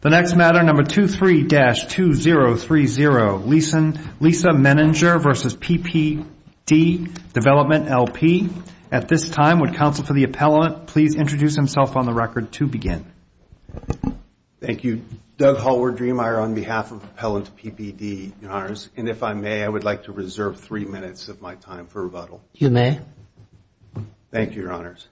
The next matter, number 23-2030, Lisa Menninger v. PPD Development, L.P. At this time, would counsel for the appellant please introduce himself on the record to begin. Thank you. Doug Hallward-Dremeier on behalf of Appellant PPD, Your Honors. And if I may, I would like to reserve three minutes of my time for rebuttal. You may. Thank you, Your Honors.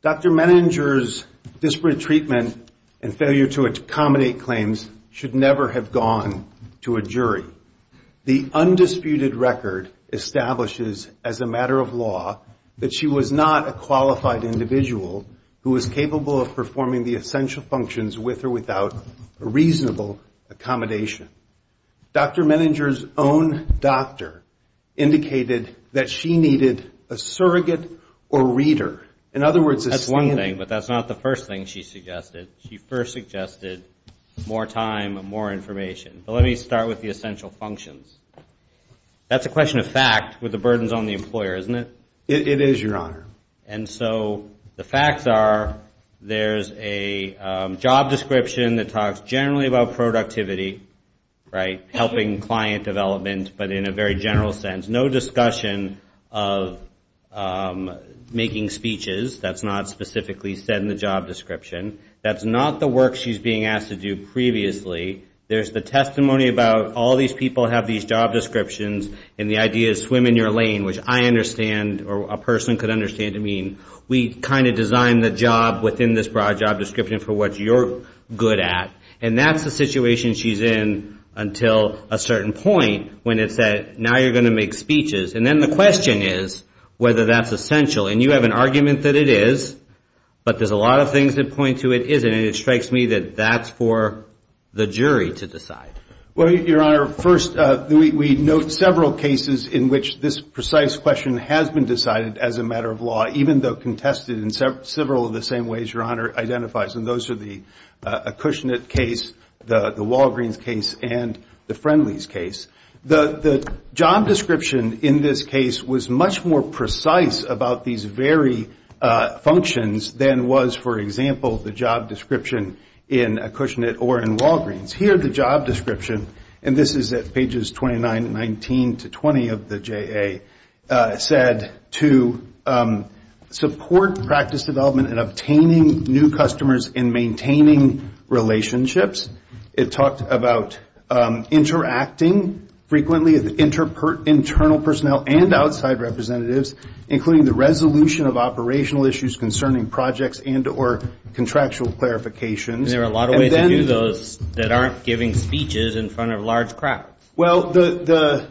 Dr. Menninger's disparate treatment and failure to accommodate claims should never have gone to a jury. The undisputed record establishes as a matter of law that she was not a qualified individual who was capable of performing the essential functions with or without reasonable accommodation. Dr. Menninger's own doctor indicated that she needed a surrogate or reader. In other words, a stand-in. That's one thing, but that's not the first thing she suggested. She first suggested more time and more information. But let me start with the essential functions. That's a question of fact with the burdens on the employer, isn't it? It is, Your Honor. And so the facts are there's a job description that talks generally about productivity, right? Helping client development, but in a very general sense. No discussion of making speeches. That's not specifically said in the job description. That's not the work she's being asked to do previously. There's the testimony about all these people have these job descriptions and the idea is swim in your lane, which I understand or a person could understand to mean we kind of designed the job within this broad job description for what you're good at. And that's the situation she's in until a certain point when it's that now you're going to make speeches. And then the question is whether that's essential. And you have an argument that it is, but there's a lot of things that point to it isn't. And it strikes me that that's for the jury to decide. Well, Your Honor, first we note several cases in which this precise question has been decided as a matter of law, even though contested in several of the same ways Your Honor identifies. And those are the Cushnet case, the Walgreens case, and the Friendlies case. The job description in this case was much more precise about these very functions than was, for example, the job description in Cushnet or in Walgreens. Here the job description, and this is at pages 29 and 19 to 20 of the JA, said to support practice development in obtaining new customers and maintaining relationships. It talked about interacting frequently with internal personnel and outside representatives, including the resolution of operational issues concerning projects and or contractual clarifications. And there are a lot of ways to do those that aren't giving speeches in front of large crowds. Well, the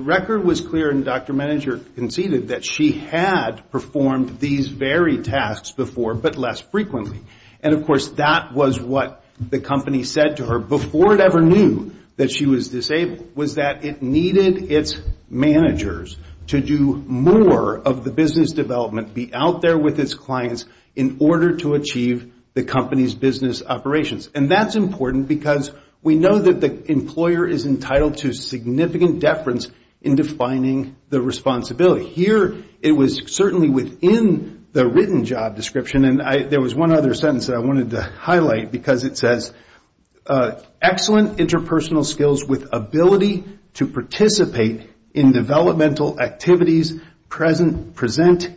record was clear, and Dr. Meninger conceded that she had performed these very tasks before, but less frequently. And, of course, that was what the company said to her before it ever knew that she was disabled, was that it needed its managers to do more of the business development, be out there with its clients in order to achieve the company's business operations. And that's important because we know that the employer is entitled to significant deference in defining the responsibility. Here it was certainly within the written job description, and there was one other sentence that I wanted to highlight because it says, excellent interpersonal skills with ability to participate in developmental activities, present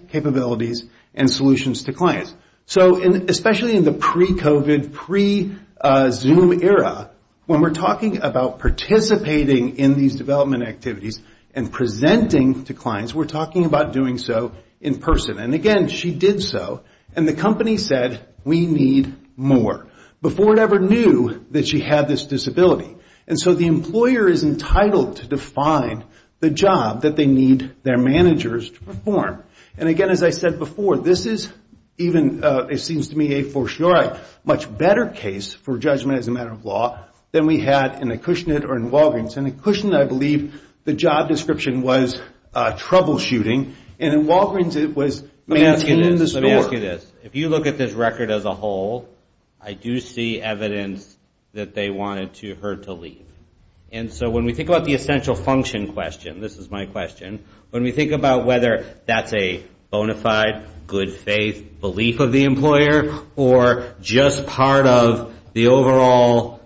capabilities and solutions to clients. So especially in the pre-COVID, pre-Zoom era, when we're talking about participating in these development activities and presenting to clients, we're talking about doing so in person. And again, she did so, and the company said, we need more. Before it ever knew that she had this disability. And so the employer is entitled to define the job that they need their managers to perform. And, again, as I said before, this is even, it seems to me, a for sure much better case for judgment as a matter of law than we had in the Cushnet or in Walgreens. In the Cushnet, I believe, the job description was troubleshooting, and in Walgreens it was maintaining the store. If you look at this record as a whole, I do see evidence that they wanted her to leave. And so when we think about the essential function question, this is my question, when we think about whether that's a bona fide, good faith belief of the employer, or just part of the overall,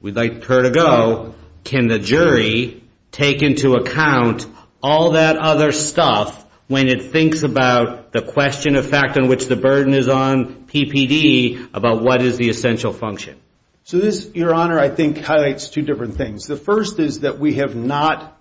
we'd like her to go, can the jury take into account all that other stuff when it thinks about the question of fact in which the burden is on PPD about what is the essential function? So this, your honor, I think highlights two different things. The first is that we have not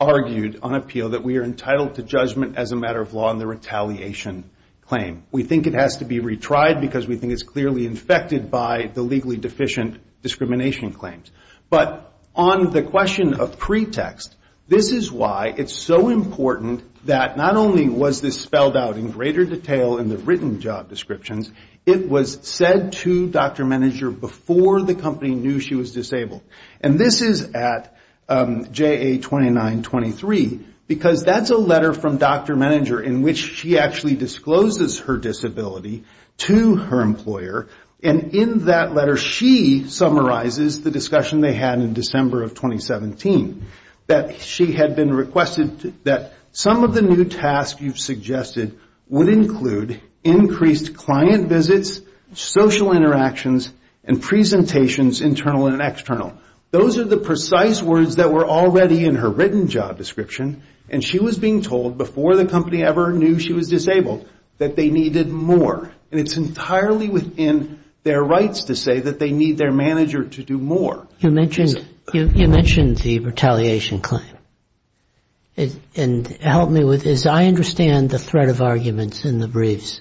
argued on appeal that we are entitled to judgment as a matter of law in the retaliation claim. We think it has to be retried because we think it's clearly infected by the legally deficient discrimination claims. But on the question of pretext, this is why it's so important that not only was this spelled out in greater detail in the written job descriptions, it was said to Dr. Meninger before the company knew she was disabled. And this is at JA 2923, because that's a letter from Dr. Meninger in which she actually discloses her disability to her employer, and in that letter she summarizes the discussion they had in December of 2017. That she had been requested that some of the new tasks you've suggested would include increased client visits, social interactions, and presentations, internal and external. Those are the precise words that were already in her written job description, and she was being told before the company ever knew she was disabled that they needed more. And it's entirely within their rights to say that they need their manager to do more. You mentioned the retaliation claim. And help me with this. I understand the threat of arguments in the briefs.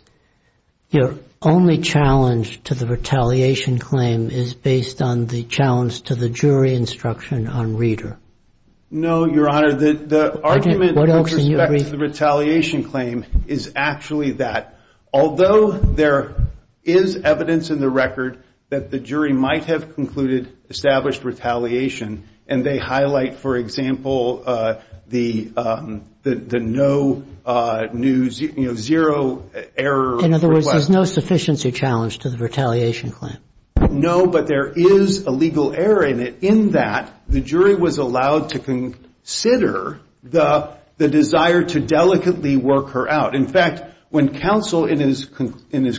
Your only challenge to the retaliation claim is based on the challenge to the jury instruction on reader. No, Your Honor. The argument with respect to the retaliation claim is actually that, although there is evidence in the record that the jury might have concluded established retaliation, and they highlight, for example, the no new zero error request. In other words, there's no sufficiency challenge to the retaliation claim. No, but there is a legal error in it, that the jury was allowed to consider the desire to delicately work her out. In fact, when counsel in his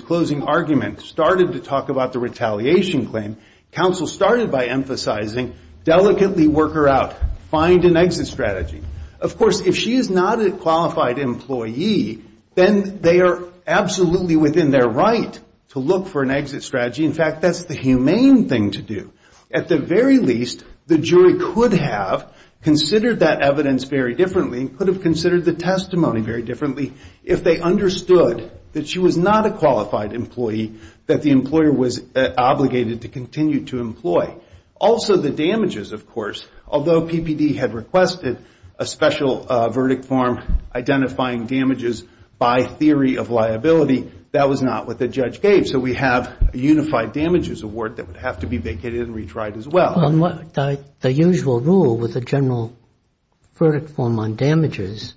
closing argument started to talk about the retaliation claim, counsel started by emphasizing delicately work her out. Find an exit strategy. Of course, if she is not a qualified employee, then they are absolutely within their right to look for an exit strategy. In fact, that's the humane thing to do. At the very least, the jury could have considered that evidence very differently and could have considered the testimony very differently if they understood that she was not a qualified employee, that the employer was obligated to continue to employ. Also, the damages, of course, although PPD had requested a special verdict form identifying damages by theory of liability, that was not what the judge gave. So we have a unified damages award that would have to be vacated and retried as well. The usual rule with the general verdict form on damages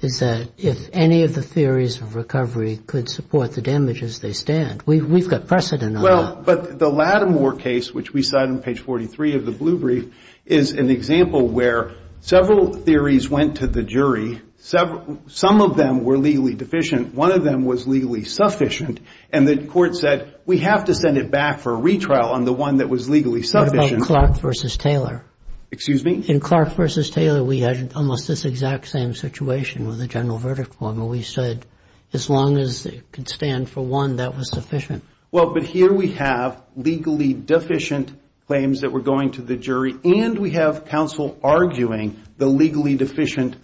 is that if any of the theories of recovery could support the damages, they stand. We've got precedent on that. Well, but the Lattimore case, which we cite on page 43 of the blue brief, is an example where several theories went to the jury. Some of them were legally deficient. One of them was legally sufficient. And the court said, we have to send it back for a retrial on the one that was legally sufficient. What about Clark v. Taylor? Excuse me? In Clark v. Taylor, we had almost this exact same situation with the general verdict form where we said as long as it could stand for one, that was sufficient. Well, but here we have legally deficient claims that were going to the jury and we have counsel arguing the legally deficient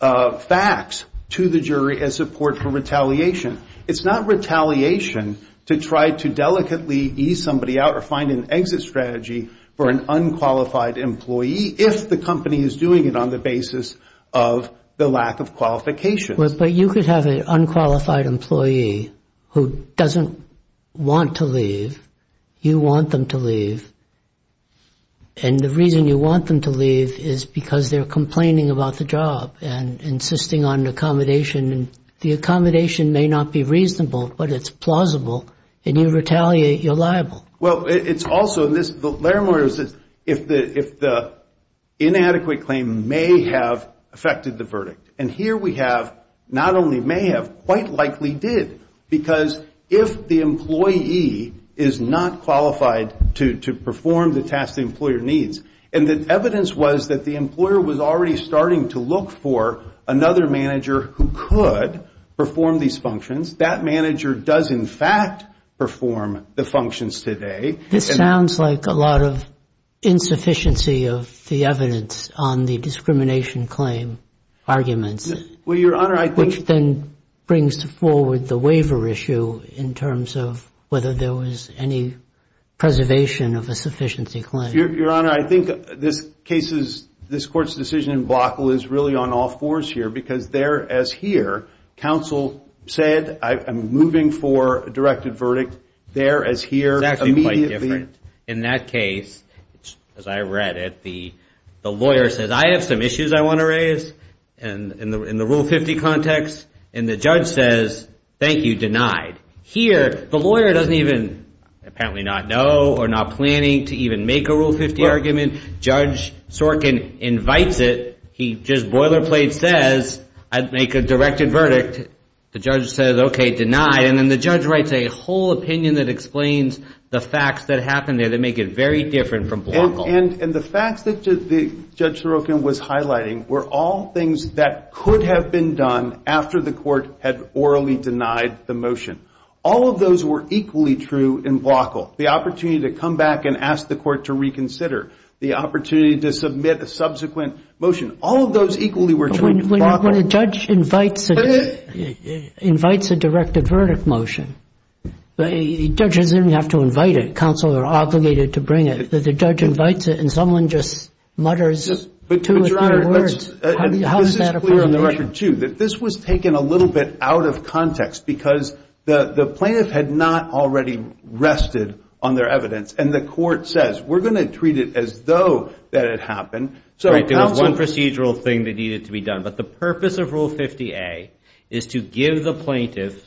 facts to the jury as support for retaliation. It's not retaliation to try to delicately ease somebody out or find an exit strategy for an unqualified employee if the company is doing it on the basis of the lack of qualification. But you could have an unqualified employee who doesn't want to leave. You want them to leave. And the reason you want them to leave is because they're complaining about the job and insisting on accommodation. And the accommodation may not be reasonable, but it's plausible. And you retaliate, you're liable. Well, it's also, and Larry Moyer says, if the inadequate claim may have affected the verdict. And here we have not only may have, quite likely did. Because if the employee is not qualified to perform the task the employer needs, and the evidence was that the employer was already starting to look for another manager who could perform these functions. That manager does, in fact, perform the functions today. This sounds like a lot of insufficiency of the evidence on the discrimination claim arguments. Well, Your Honor, I think. Which then brings forward the waiver issue in terms of whether there was any preservation of a sufficiency claim. Your Honor, I think this court's decision in Blockle is really on all fours here. Because there, as here, counsel said, I'm moving for a directed verdict. There, as here, immediately. In that case, as I read it, the lawyer says, I have some issues I want to raise in the Rule 50 context. And the judge says, thank you, denied. Here, the lawyer doesn't even, apparently not know or not planning to even make a Rule 50 argument. Judge Sorkin invites it. He just boilerplate says, I'd make a directed verdict. The judge says, okay, denied. And then the judge writes a whole opinion that explains the facts that happened there that make it very different from Blockle. And the facts that Judge Sorkin was highlighting were all things that could have been done after the court had orally denied the motion. All of those were equally true in Blockle. The opportunity to come back and ask the court to reconsider. The opportunity to submit a subsequent motion. All of those equally were true in Blockle. When a judge invites a directed verdict motion, the judge doesn't even have to invite it. The defense counsel are obligated to bring it. If the judge invites it and someone just mutters two or three words, how does that apply to the motion? This was taken a little bit out of context because the plaintiff had not already rested on their evidence. And the court says, we're going to treat it as though that it happened. There was one procedural thing that needed to be done. But the purpose of Rule 50A is to give the plaintiff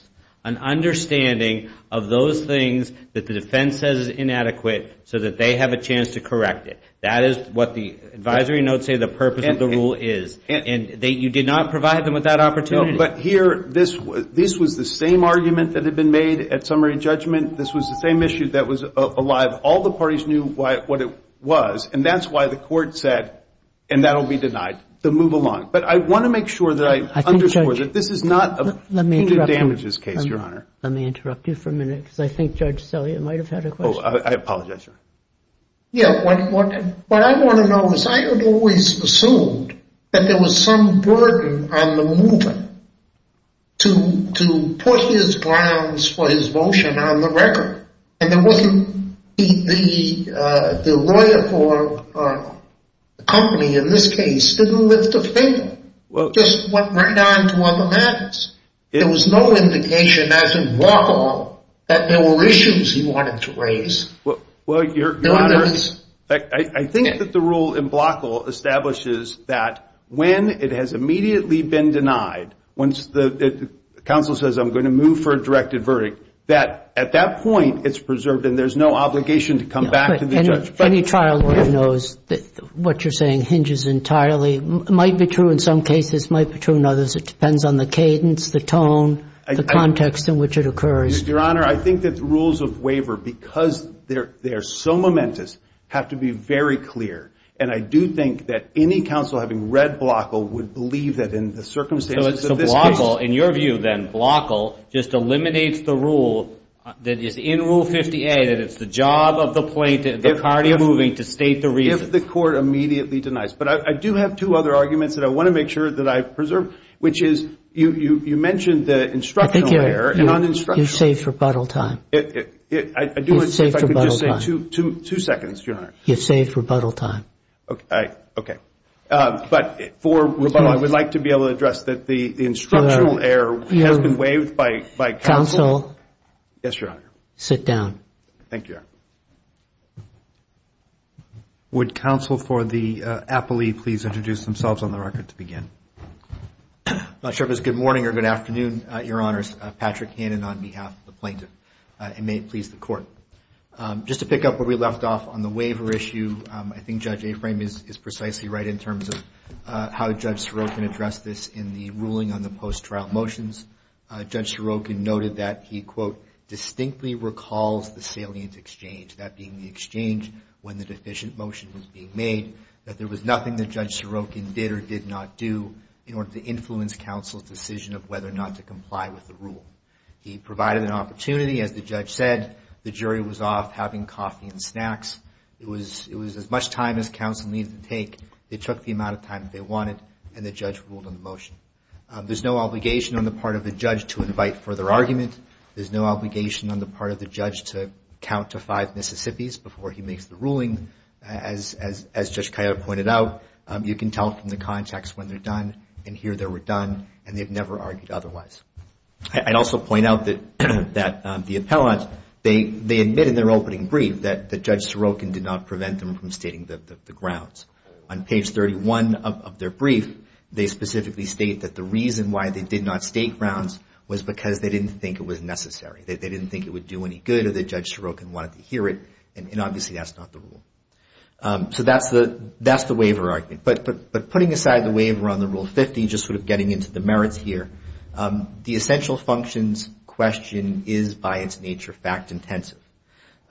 an understanding of those things that the defense says is inadequate so that they have a chance to correct it. That is what the advisory notes say the purpose of the rule is. And you did not provide them with that opportunity. But here, this was the same argument that had been made at summary judgment. This was the same issue that was alive. All the parties knew what it was. And that's why the court said, and that will be denied, to move along. But I want to make sure that I underscore that this is not a punitive damages case, Your Honor. Let me interrupt you for a minute because I think Judge Selye might have had a question. Oh, I apologize, Your Honor. Yeah, what I want to know is I had always assumed that there was some burden on the mover to put his grounds for his motion on the record. And the lawyer for the company in this case didn't lift a finger. Just went right on to other matters. There was no indication as in Blockle that there were issues he wanted to raise. Well, Your Honor, I think that the rule in Blockle establishes that when it has immediately been denied, once the counsel says I'm going to move for a directed verdict, that at that point it's preserved and there's no obligation to come back to the judge. Any trial lawyer knows that what you're saying hinges entirely, might be true in some cases, might be true in others. It depends on the cadence, the tone, the context in which it occurs. Your Honor, I think that the rules of waiver, because they are so momentous, have to be very clear. And I do think that any counsel having read Blockle would believe that in the circumstances of this case. Blockle, in your view then, Blockle just eliminates the rule that is in Rule 50A that it's the job of the plaintiff, the party moving to state the reason. If the court immediately denies. But I do have two other arguments that I want to make sure that I preserve, which is you mentioned the instructional error. I think you saved rebuttal time. I do want to see if I could just say two seconds, Your Honor. You saved rebuttal time. Okay. But for rebuttal, I would like to be able to address that the instructional error has been waived by counsel. Yes, Your Honor. Sit down. Thank you, Your Honor. Would counsel for the appellee please introduce themselves on the record to begin? I'm not sure if it's good morning or good afternoon, Your Honors. Patrick Hannon on behalf of the plaintiff. And may it please the court. Just to pick up where we left off on the waiver issue. I think Judge Aframe is precisely right in terms of how Judge Sorokin addressed this in the ruling on the post-trial motions. Judge Sorokin noted that he, quote, distinctly recalls the salient exchange. That being the exchange when the deficient motion was being made. That there was nothing that Judge Sorokin did or did not do in order to influence counsel's decision of whether or not to comply with the rule. He provided an opportunity, as the judge said. The jury was off having coffee and snacks. It was as much time as counsel needed to take. They took the amount of time that they wanted. And the judge ruled on the motion. There's no obligation on the part of the judge to invite further argument. There's no obligation on the part of the judge to count to five Mississippis before he makes the ruling. As Judge Coyote pointed out, you can tell from the context when they're done and here they were done. And they've never argued otherwise. I'd also point out that the appellant, they admit in their opening brief that Judge Sorokin did not prevent them from stating the grounds. On page 31 of their brief, they specifically state that the reason why they did not state grounds was because they didn't think it was necessary. They didn't think it would do any good or that Judge Sorokin wanted to hear it. And obviously that's not the rule. So that's the waiver argument. But putting aside the waiver on the Rule 50, just sort of getting into the merits here, the essential functions question is by its nature fact-intensive.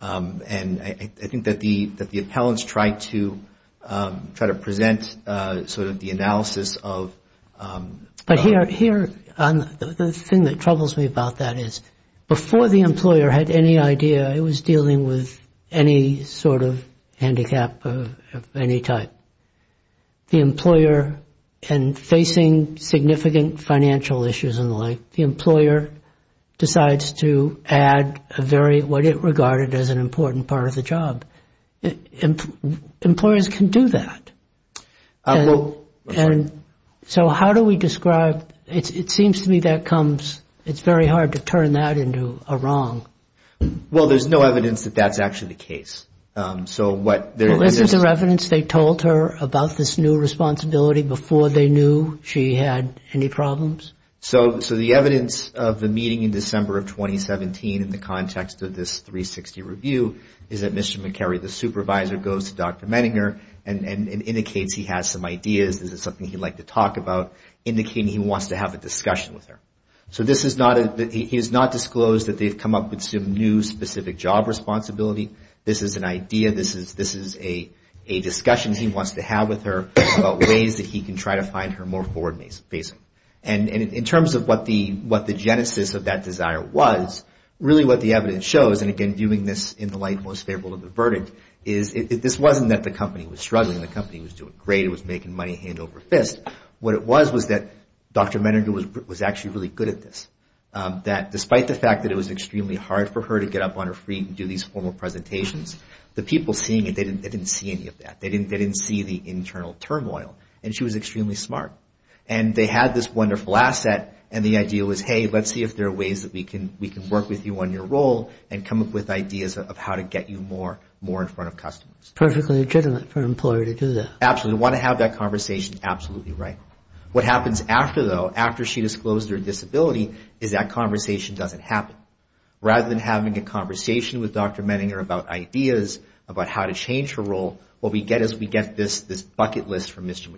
And I think that the appellants tried to present sort of the analysis of. But here, the thing that troubles me about that is before the employer had any idea it was dealing with any sort of handicap of any type, the employer and facing significant financial issues in life, the employer decides to add a very, what it regarded as an important part of the job. Employers can do that. And so how do we describe it? It seems to me that comes. It's very hard to turn that into a wrong. Well, there's no evidence that that's actually the case. So what their evidence they told her about this new responsibility before they knew she had any problems. So. So the evidence of the meeting in December of 2017 in the context of this 360 review is that Mr. McKerry, the supervisor, goes to Dr. Menninger and indicates he has some ideas. This is something he'd like to talk about, indicating he wants to have a discussion with her. So this is not a, he has not disclosed that they've come up with some new specific job responsibility. This is an idea. This is a discussion he wants to have with her about ways that he can try to find her more forward facing. And in terms of what the genesis of that desire was, really what the evidence shows, and again, viewing this in the light most favorable of the verdict, is this wasn't that the company was struggling. The company was doing great. It was making money hand over fist. What it was was that Dr. Menninger was actually really good at this. That despite the fact that it was extremely hard for her to get up on her feet and do these formal presentations, the people seeing it, they didn't see any of that. They didn't see the internal turmoil. And she was extremely smart. And they had this wonderful asset. And the idea was, hey, let's see if there are ways that we can work with you on your role and come up with ideas of how to get you more in front of customers. Perfectly legitimate for an employer to do that. Absolutely. They want to have that conversation. Absolutely right. What happens after, though, after she disclosed her disability is that conversation doesn't happen. Rather than having a conversation with Dr. Menninger about ideas, about how to change her role, what we get is we get this bucket list from Mr.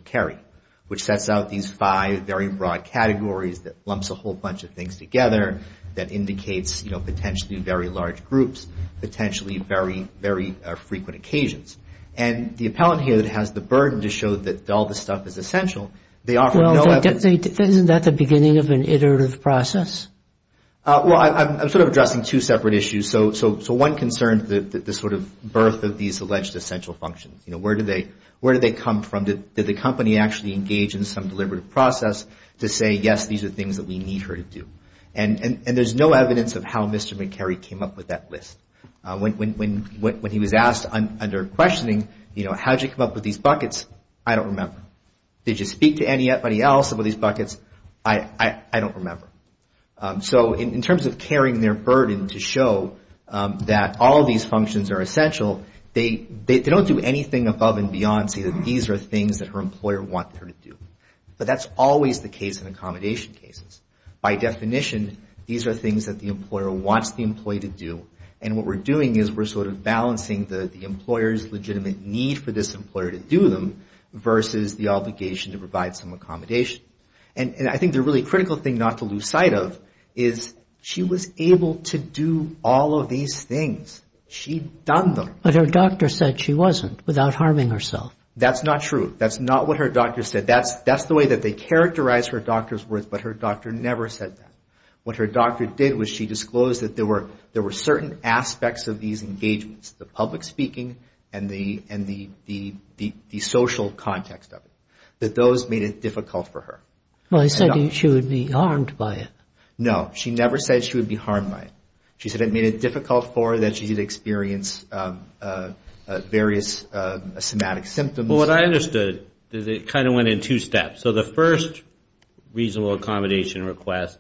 that lumps a whole bunch of things together that indicates potentially very large groups, potentially very, very frequent occasions. And the appellant here that has the burden to show that all this stuff is essential, they offer no evidence. Isn't that the beginning of an iterative process? Well, I'm sort of addressing two separate issues. So one concerns the sort of birth of these alleged essential functions. Where do they come from? Did the company actually engage in some deliberative process to say, yes, these are things that we need her to do? And there's no evidence of how Mr. McKerry came up with that list. When he was asked under questioning, you know, how did you come up with these buckets, I don't remember. Did you speak to anybody else about these buckets? I don't remember. So in terms of carrying their burden to show that all these functions are essential, they don't do anything above and beyond say that these are things that her employer wants her to do. But that's always the case in accommodation cases. By definition, these are things that the employer wants the employee to do. And what we're doing is we're sort of balancing the employer's legitimate need for this employer to do them versus the obligation to provide some accommodation. And I think the really critical thing not to lose sight of is she was able to do all of these things. She'd done them. But her doctor said she wasn't without harming herself. That's not true. That's not what her doctor said. That's the way that they characterized her doctor's words, but her doctor never said that. What her doctor did was she disclosed that there were certain aspects of these engagements, the public speaking and the social context of it, that those made it difficult for her. Well, she said she would be harmed by it. No, she never said she would be harmed by it. She said it made it difficult for her that she'd experience various somatic symptoms. Well, what I understood is it kind of went in two steps. So the first reasonable accommodation request,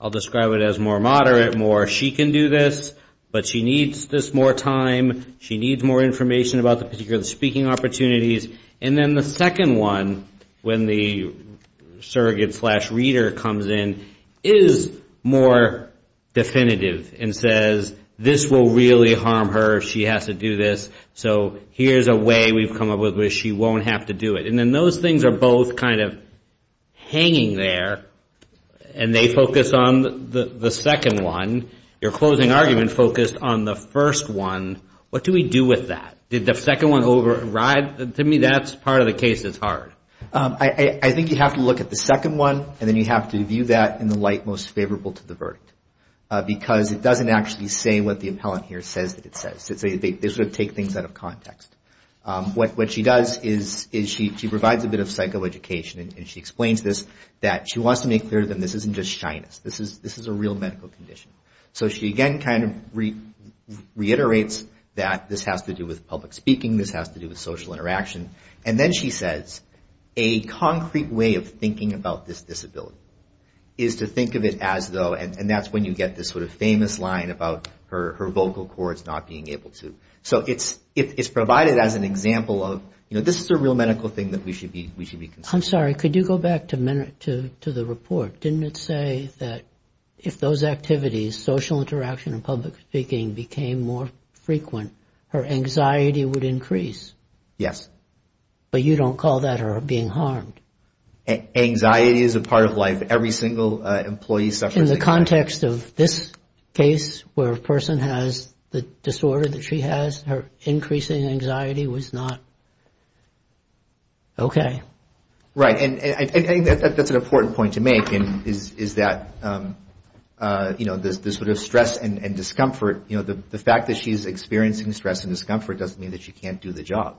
I'll describe it as more moderate, more she can do this, but she needs this more time. She needs more information about the particular speaking opportunities. And then the second one, when the surrogate slash reader comes in, is more definitive and says, this will really harm her if she has to do this, so here's a way we've come up with where she won't have to do it. And then those things are both kind of hanging there, and they focus on the second one. Your closing argument focused on the first one. What do we do with that? Did the second one override? To me, that's part of the case that's hard. I think you have to look at the second one, and then you have to view that in the light most favorable to the verdict, because it doesn't actually say what the appellant here says that it says. They sort of take things out of context. What she does is she provides a bit of psychoeducation, and she explains this, that she wants to make clear that this isn't just shyness. This is a real medical condition. So she again kind of reiterates that this has to do with public speaking. This has to do with social interaction. And then she says, a concrete way of thinking about this disability is to think of it as though, and that's when you get this sort of famous line about her vocal cords not being able to. So it's provided as an example of, you know, this is a real medical thing that we should be considering. I'm sorry. Could you go back to the report? Didn't it say that if those activities, social interaction and public speaking, became more frequent, her anxiety would increase? Yes. But you don't call that her being harmed? Anxiety is a part of life. Every single employee suffers anxiety. In the context of this case where a person has the disorder that she has, her increasing anxiety was not okay. Right. And I think that's an important point to make is that, you know, this sort of stress and discomfort, you know, the fact that she's experiencing stress and discomfort doesn't mean that she can't do the job.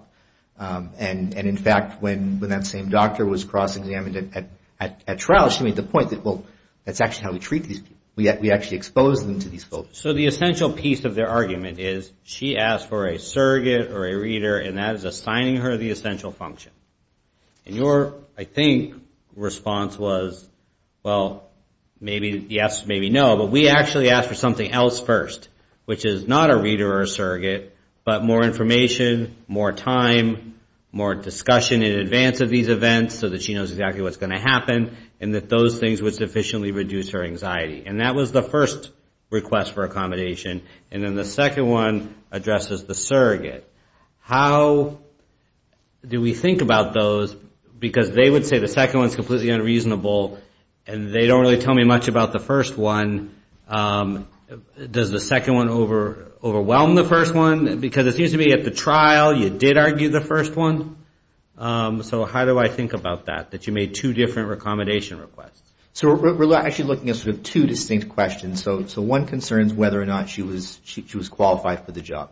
And in fact, when that same doctor was cross-examined at trial, she made the point that, well, that's actually how we treat these people. We actually expose them to these folks. So the essential piece of their argument is she asked for a surrogate or a reader, and that is assigning her the essential function. And your, I think, response was, well, maybe yes, maybe no, but we actually asked for something else first, which is not a reader or a surrogate, but more information, more time, more discussion in advance of these events so that she knows exactly what's going to happen and that those things would sufficiently reduce her anxiety. And that was the first request for accommodation. And then the second one addresses the surrogate. How do we think about those? Because they would say the second one is completely unreasonable, and they don't really tell me much about the first one. Does the second one overwhelm the first one? Because it seems to me at the trial you did argue the first one. So how do I think about that, that you made two different accommodation requests? So we're actually looking at sort of two distinct questions. So one concerns whether or not she was qualified for the job.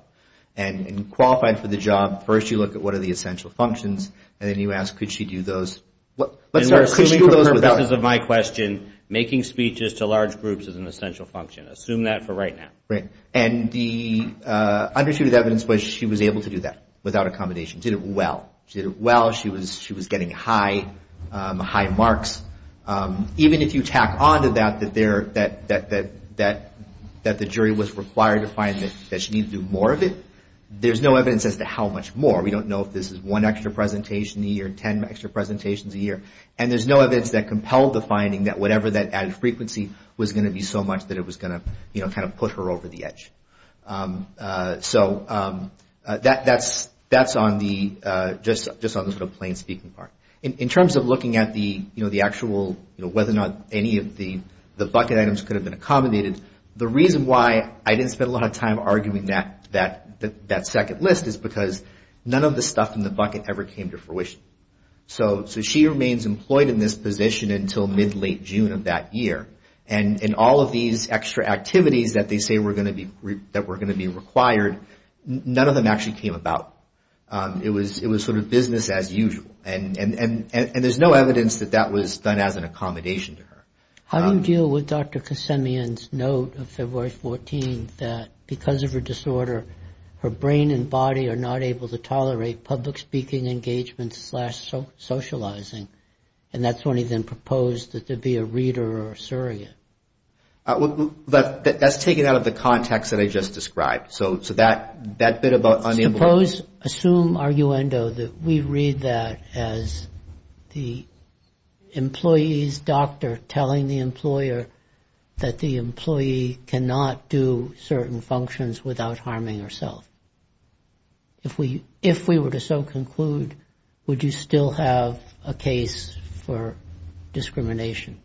And qualified for the job, first you look at what are the essential functions, and then you ask, could she do those? And we're assuming for purposes of my question, making speeches to large groups is an essential function. Assume that for right now. And the undisputed evidence was she was able to do that without accommodation. She did it well. She did it well. She was getting high marks. Even if you tack on to that, that the jury was required to find that she needed to do more of it, there's no evidence as to how much more. We don't know if this is one extra presentation a year, ten extra presentations a year. And there's no evidence that compelled the finding that whatever that added frequency was going to be so much that it was going to kind of push her over the edge. So that's on the sort of plain speaking part. In terms of looking at the actual, whether or not any of the bucket items could have been accommodated. The reason why I didn't spend a lot of time arguing that second list is because none of the stuff in the bucket ever came to fruition. So she remains employed in this position until mid-late June of that year. And all of these extra activities that they say were going to be required, none of them actually came about. It was sort of business as usual. And there's no evidence that that was done as an accommodation to her. How do you deal with Dr. Kasemian's note of February 14th that because of her disorder, her brain and body are not able to tolerate public speaking engagements slash socializing. And that's when he then proposed that there be a reader or surrogate. But that's taken out of the context that I just described. So that bit about unemployment. Suppose, assume, arguendo that we read that as the employee's doctor telling the employer that the employee cannot do certain functions without harming herself. If we were to so conclude, would you still have a case for discrimination?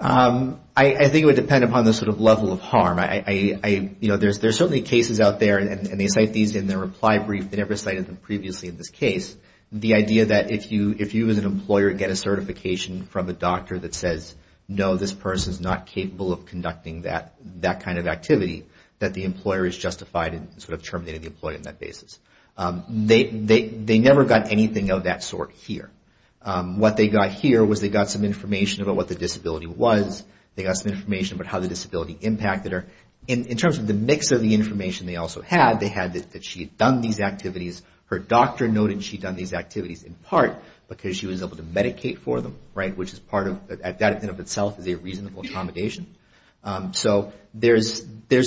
I think it would depend upon the sort of level of harm. There's certainly cases out there, and they cite these in their reply brief. They never cited them previously in this case. The idea that if you as an employer get a certification from a doctor that says, no, this person's not capable of conducting that kind of activity, that the employer is justified in sort of terminating the employee on that basis. They never got anything of that sort here. What they got here was they got some information about what the disability was. They got some information about how the disability impacted her. In terms of the mix of the information they also had, they had that she had done these activities. Her doctor noted she'd done these activities in part because she was able to medicate for them. Which is part of, at that end of itself, is a reasonable accommodation. So there's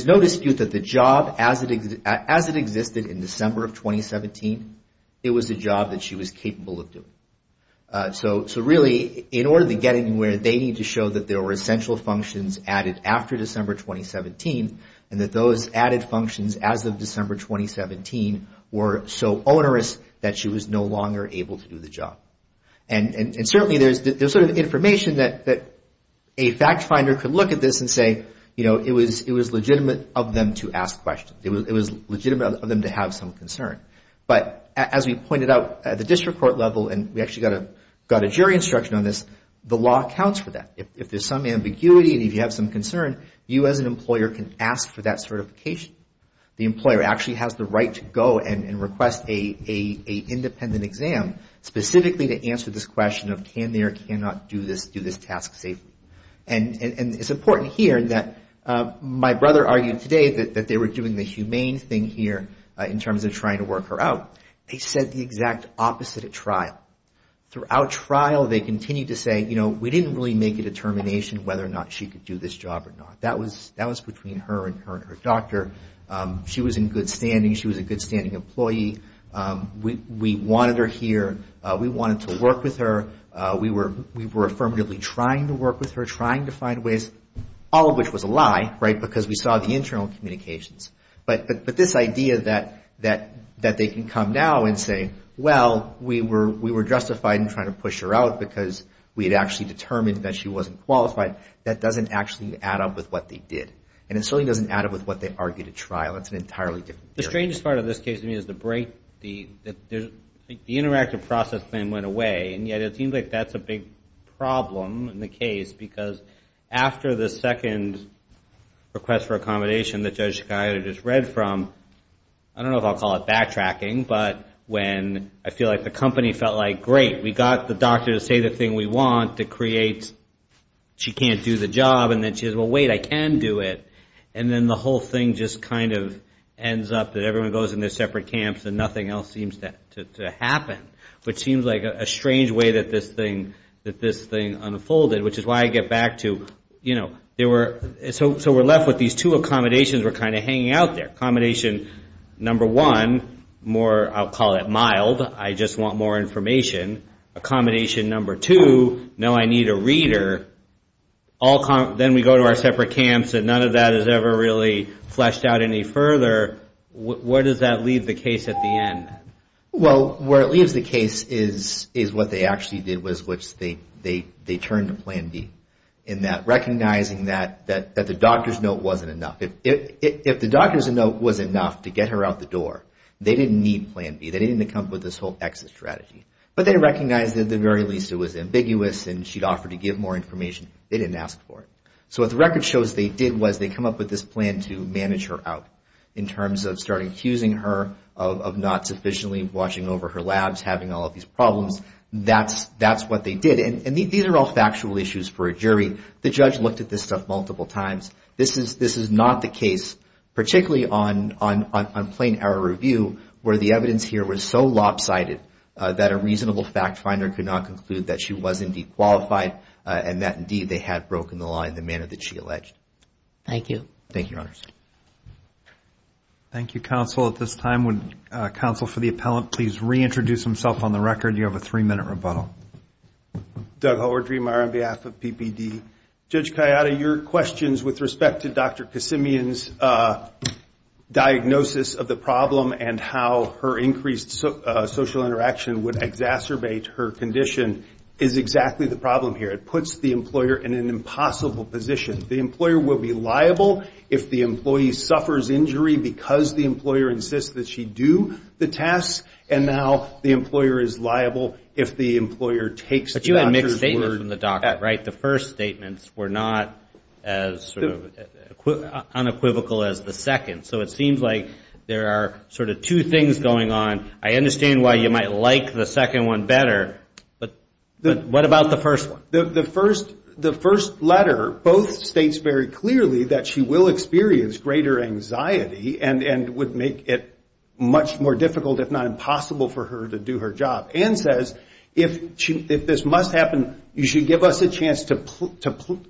no dispute that the job, as it existed in December of 2017, it was a job that she was capable of doing. So really, in order to get anywhere, they need to show that there were essential functions added after December 2017. And that those added functions as of December 2017 were so onerous that she was no longer able to do the job. And certainly there's sort of information that a fact finder could look at this and say, you know, it was legitimate of them to ask questions. It was legitimate of them to have some concern. But as we pointed out, at the district court level, and we actually got a jury instruction on this, the law accounts for that. If there's some ambiguity and if you have some concern, you as an employer can ask for that certification. The employer actually has the right to go and request an independent exam, specifically to answer this question of can they or cannot do this task safely. And it's important here that my brother argued today that they were doing the humane thing here in terms of trying to work with her. They were trying to work her out. They said the exact opposite at trial. Throughout trial, they continued to say, you know, we didn't really make a determination whether or not she could do this job or not. That was between her and her doctor. She was in good standing. She was a good standing employee. We wanted her here. We wanted to work with her. We were affirmatively trying to work with her, trying to find ways, all of which was a lie, right, because we saw the internal communications. But this idea that they can come now and say, well, we were justified in trying to push her out because we had actually determined that she wasn't qualified, that doesn't actually add up with what they did. And it certainly doesn't add up with what they argued at trial. That's an entirely different theory. The strangest part of this case to me is the break, the interactive process then went away, and yet it seems like that's a big problem in the case, because after the second request for accommodation that Judge Chicago just read from, I don't know if I'll call it backtracking, but when I feel like the company felt like, great, we got the doctor to say the thing we want to create, she can't do the job, and then she says, well, wait, I can do it. And then the whole thing just kind of ends up that everyone goes in their separate camps and nothing else seems to happen, which seems like a strange way that this thing unfolded, which is why I get back to, you know, so we're left with these two accommodations that were kind of hanging out there. Accommodation number one, more, I'll call it mild, I just want more information. Accommodation number two, no, I need a reader. Then we go to our separate camps and none of that has ever really fleshed out any further. Where does that leave the case at the end? Well, where it leaves the case is what they actually did was which they turned to Plan B in that recognizing that the doctor's note wasn't enough. If the doctor's note was enough to get her out the door, they didn't need Plan B. They didn't need to come up with this whole exit strategy. But they recognized that at the very least it was ambiguous and she'd offer to give more information. They didn't ask for it. So what the record shows they did was they come up with this plan to manage her out in terms of starting accusing her of not sufficiently watching over her labs, having all of these problems. That's what they did. And these are all factual issues for a jury. The judge looked at this stuff multiple times. This is not the case, particularly on plain error review where the evidence here was so lopsided that a reasonable fact finder could not conclude that she was indeed qualified and that indeed they had broken the law in the manner that she alleged. Thank you. Thank you, counsel. At this time, would counsel for the appellant please reintroduce himself on the record? You have a three-minute rebuttal. Doug Howard, on behalf of PPD. Judge Kayada, your questions with respect to Dr. Kasimian's diagnosis of the problem and how her increased social interaction would exacerbate her condition is exactly the problem here. It puts the employer in an impossible position. The employer will be liable if the employee suffers injury because the employer insists that she do the task. And now the employer is liable if the employer takes the doctor's word. But you had mixed statements from the doctor, right? The first statements were not as unequivocal as the second. So it seems like there are sort of two things going on. I understand why you might like the second one better. But what about the first one? The first letter both states very clearly that she will experience greater anxiety and would make it much more difficult if not impossible for her to do her job. And says if this must happen, you should give us a chance to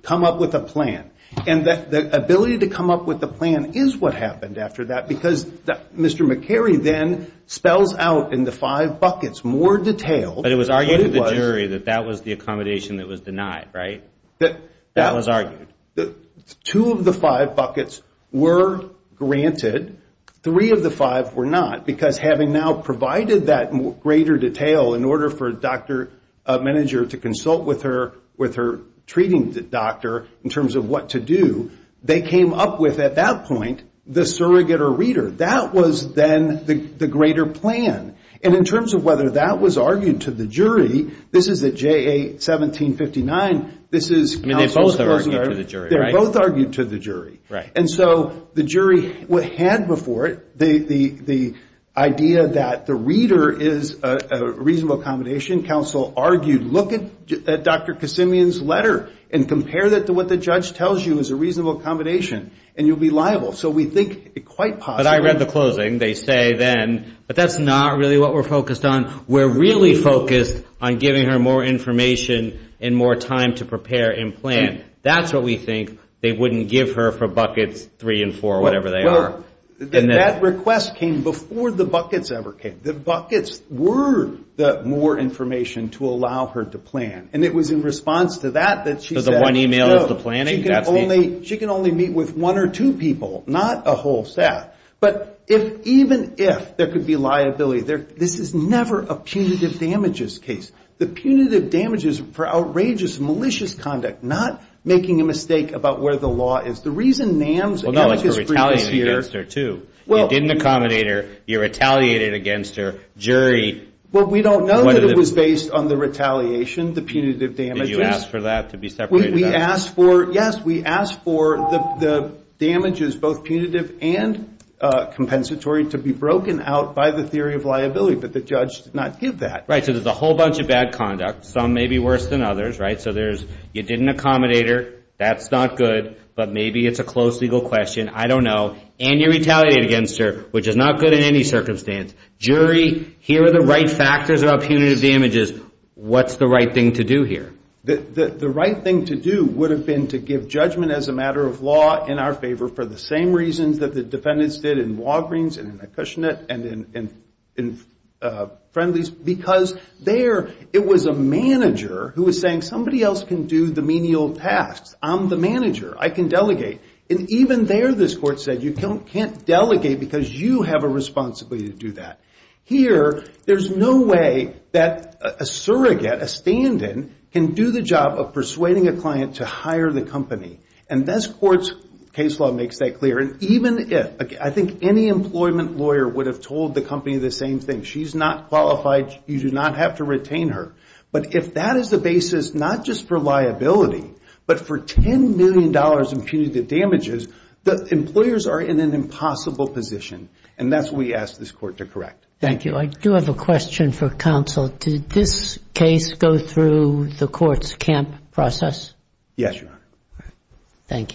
come up with a plan. And the ability to come up with a plan is what happened after that. Because Mr. McCary then spells out in the five buckets more detail. But it was argued to the jury that that was the accommodation that was denied, right? That was argued. Two of the five buckets were granted. Three of the five were not. Because having now provided that greater detail in order for a doctor, a manager, to consult with her treating doctor in terms of what to do, they came up with at that point the surrogate or reader. That was then the greater plan. And in terms of whether that was argued to the jury, this is at JA 1759, this is counsel's perspective. They both argued to the jury. And so the jury had before it the idea that the reader is a reasonable accommodation. Counsel argued, look at Dr. Kasimian's letter and compare that to what the judge tells you is a reasonable accommodation. And you'll be liable. So we think quite possibly. But I read the closing. They say then, but that's not really what we're focused on. We're really focused on giving her more information and more time to prepare and plan. That's what we think. They wouldn't give her for buckets three and four, whatever they are. And that request came before the buckets ever came. The buckets were the more information to allow her to plan. And it was in response to that that she said. So she can only meet with one or two people. Not a whole staff. But even if there could be liability, this is never a punitive damages case. The punitive damages for outrageous, malicious conduct. Not making a mistake about where the law is. The reason NAMS. You didn't accommodate her. You retaliated against her. We don't know if it was based on the retaliation, the punitive damages. Did you ask for that? Yes, we asked for the damages, both punitive and compensatory, to be broken out by the theory of liability. But the judge did not give that. So there's a whole bunch of bad conduct. Some may be worse than others. You didn't accommodate her. That's not good. But maybe it's a close legal question. I don't know. And you retaliated against her, which is not good in any circumstance. Jury, here are the right factors about punitive damages. What's the right thing to do here? The right thing to do would have been to give judgment as a matter of law in our favor. For the same reasons that the defendants did in Walgreens and in Acushnet. And in Friendly's. Because there, it was a manager who was saying, somebody else can do the menial tasks. I'm the manager. I can delegate. And even there, this court said, you can't delegate because you have a responsibility to do that. Here, there's no way that a surrogate, a stand-in, can do the job of persuading a client to hire the company. And this court's case law makes that clear. And even if, I think any employment lawyer would have told the company the same thing. If she's not qualified, you do not have to retain her. But if that is the basis, not just for liability, but for $10 million in punitive damages, the employers are in an impossible position. And that's what we ask this court to correct. Thank you. I do have a question for counsel. Did this case go through the court's camp process? Yes, Your Honor. Thank you.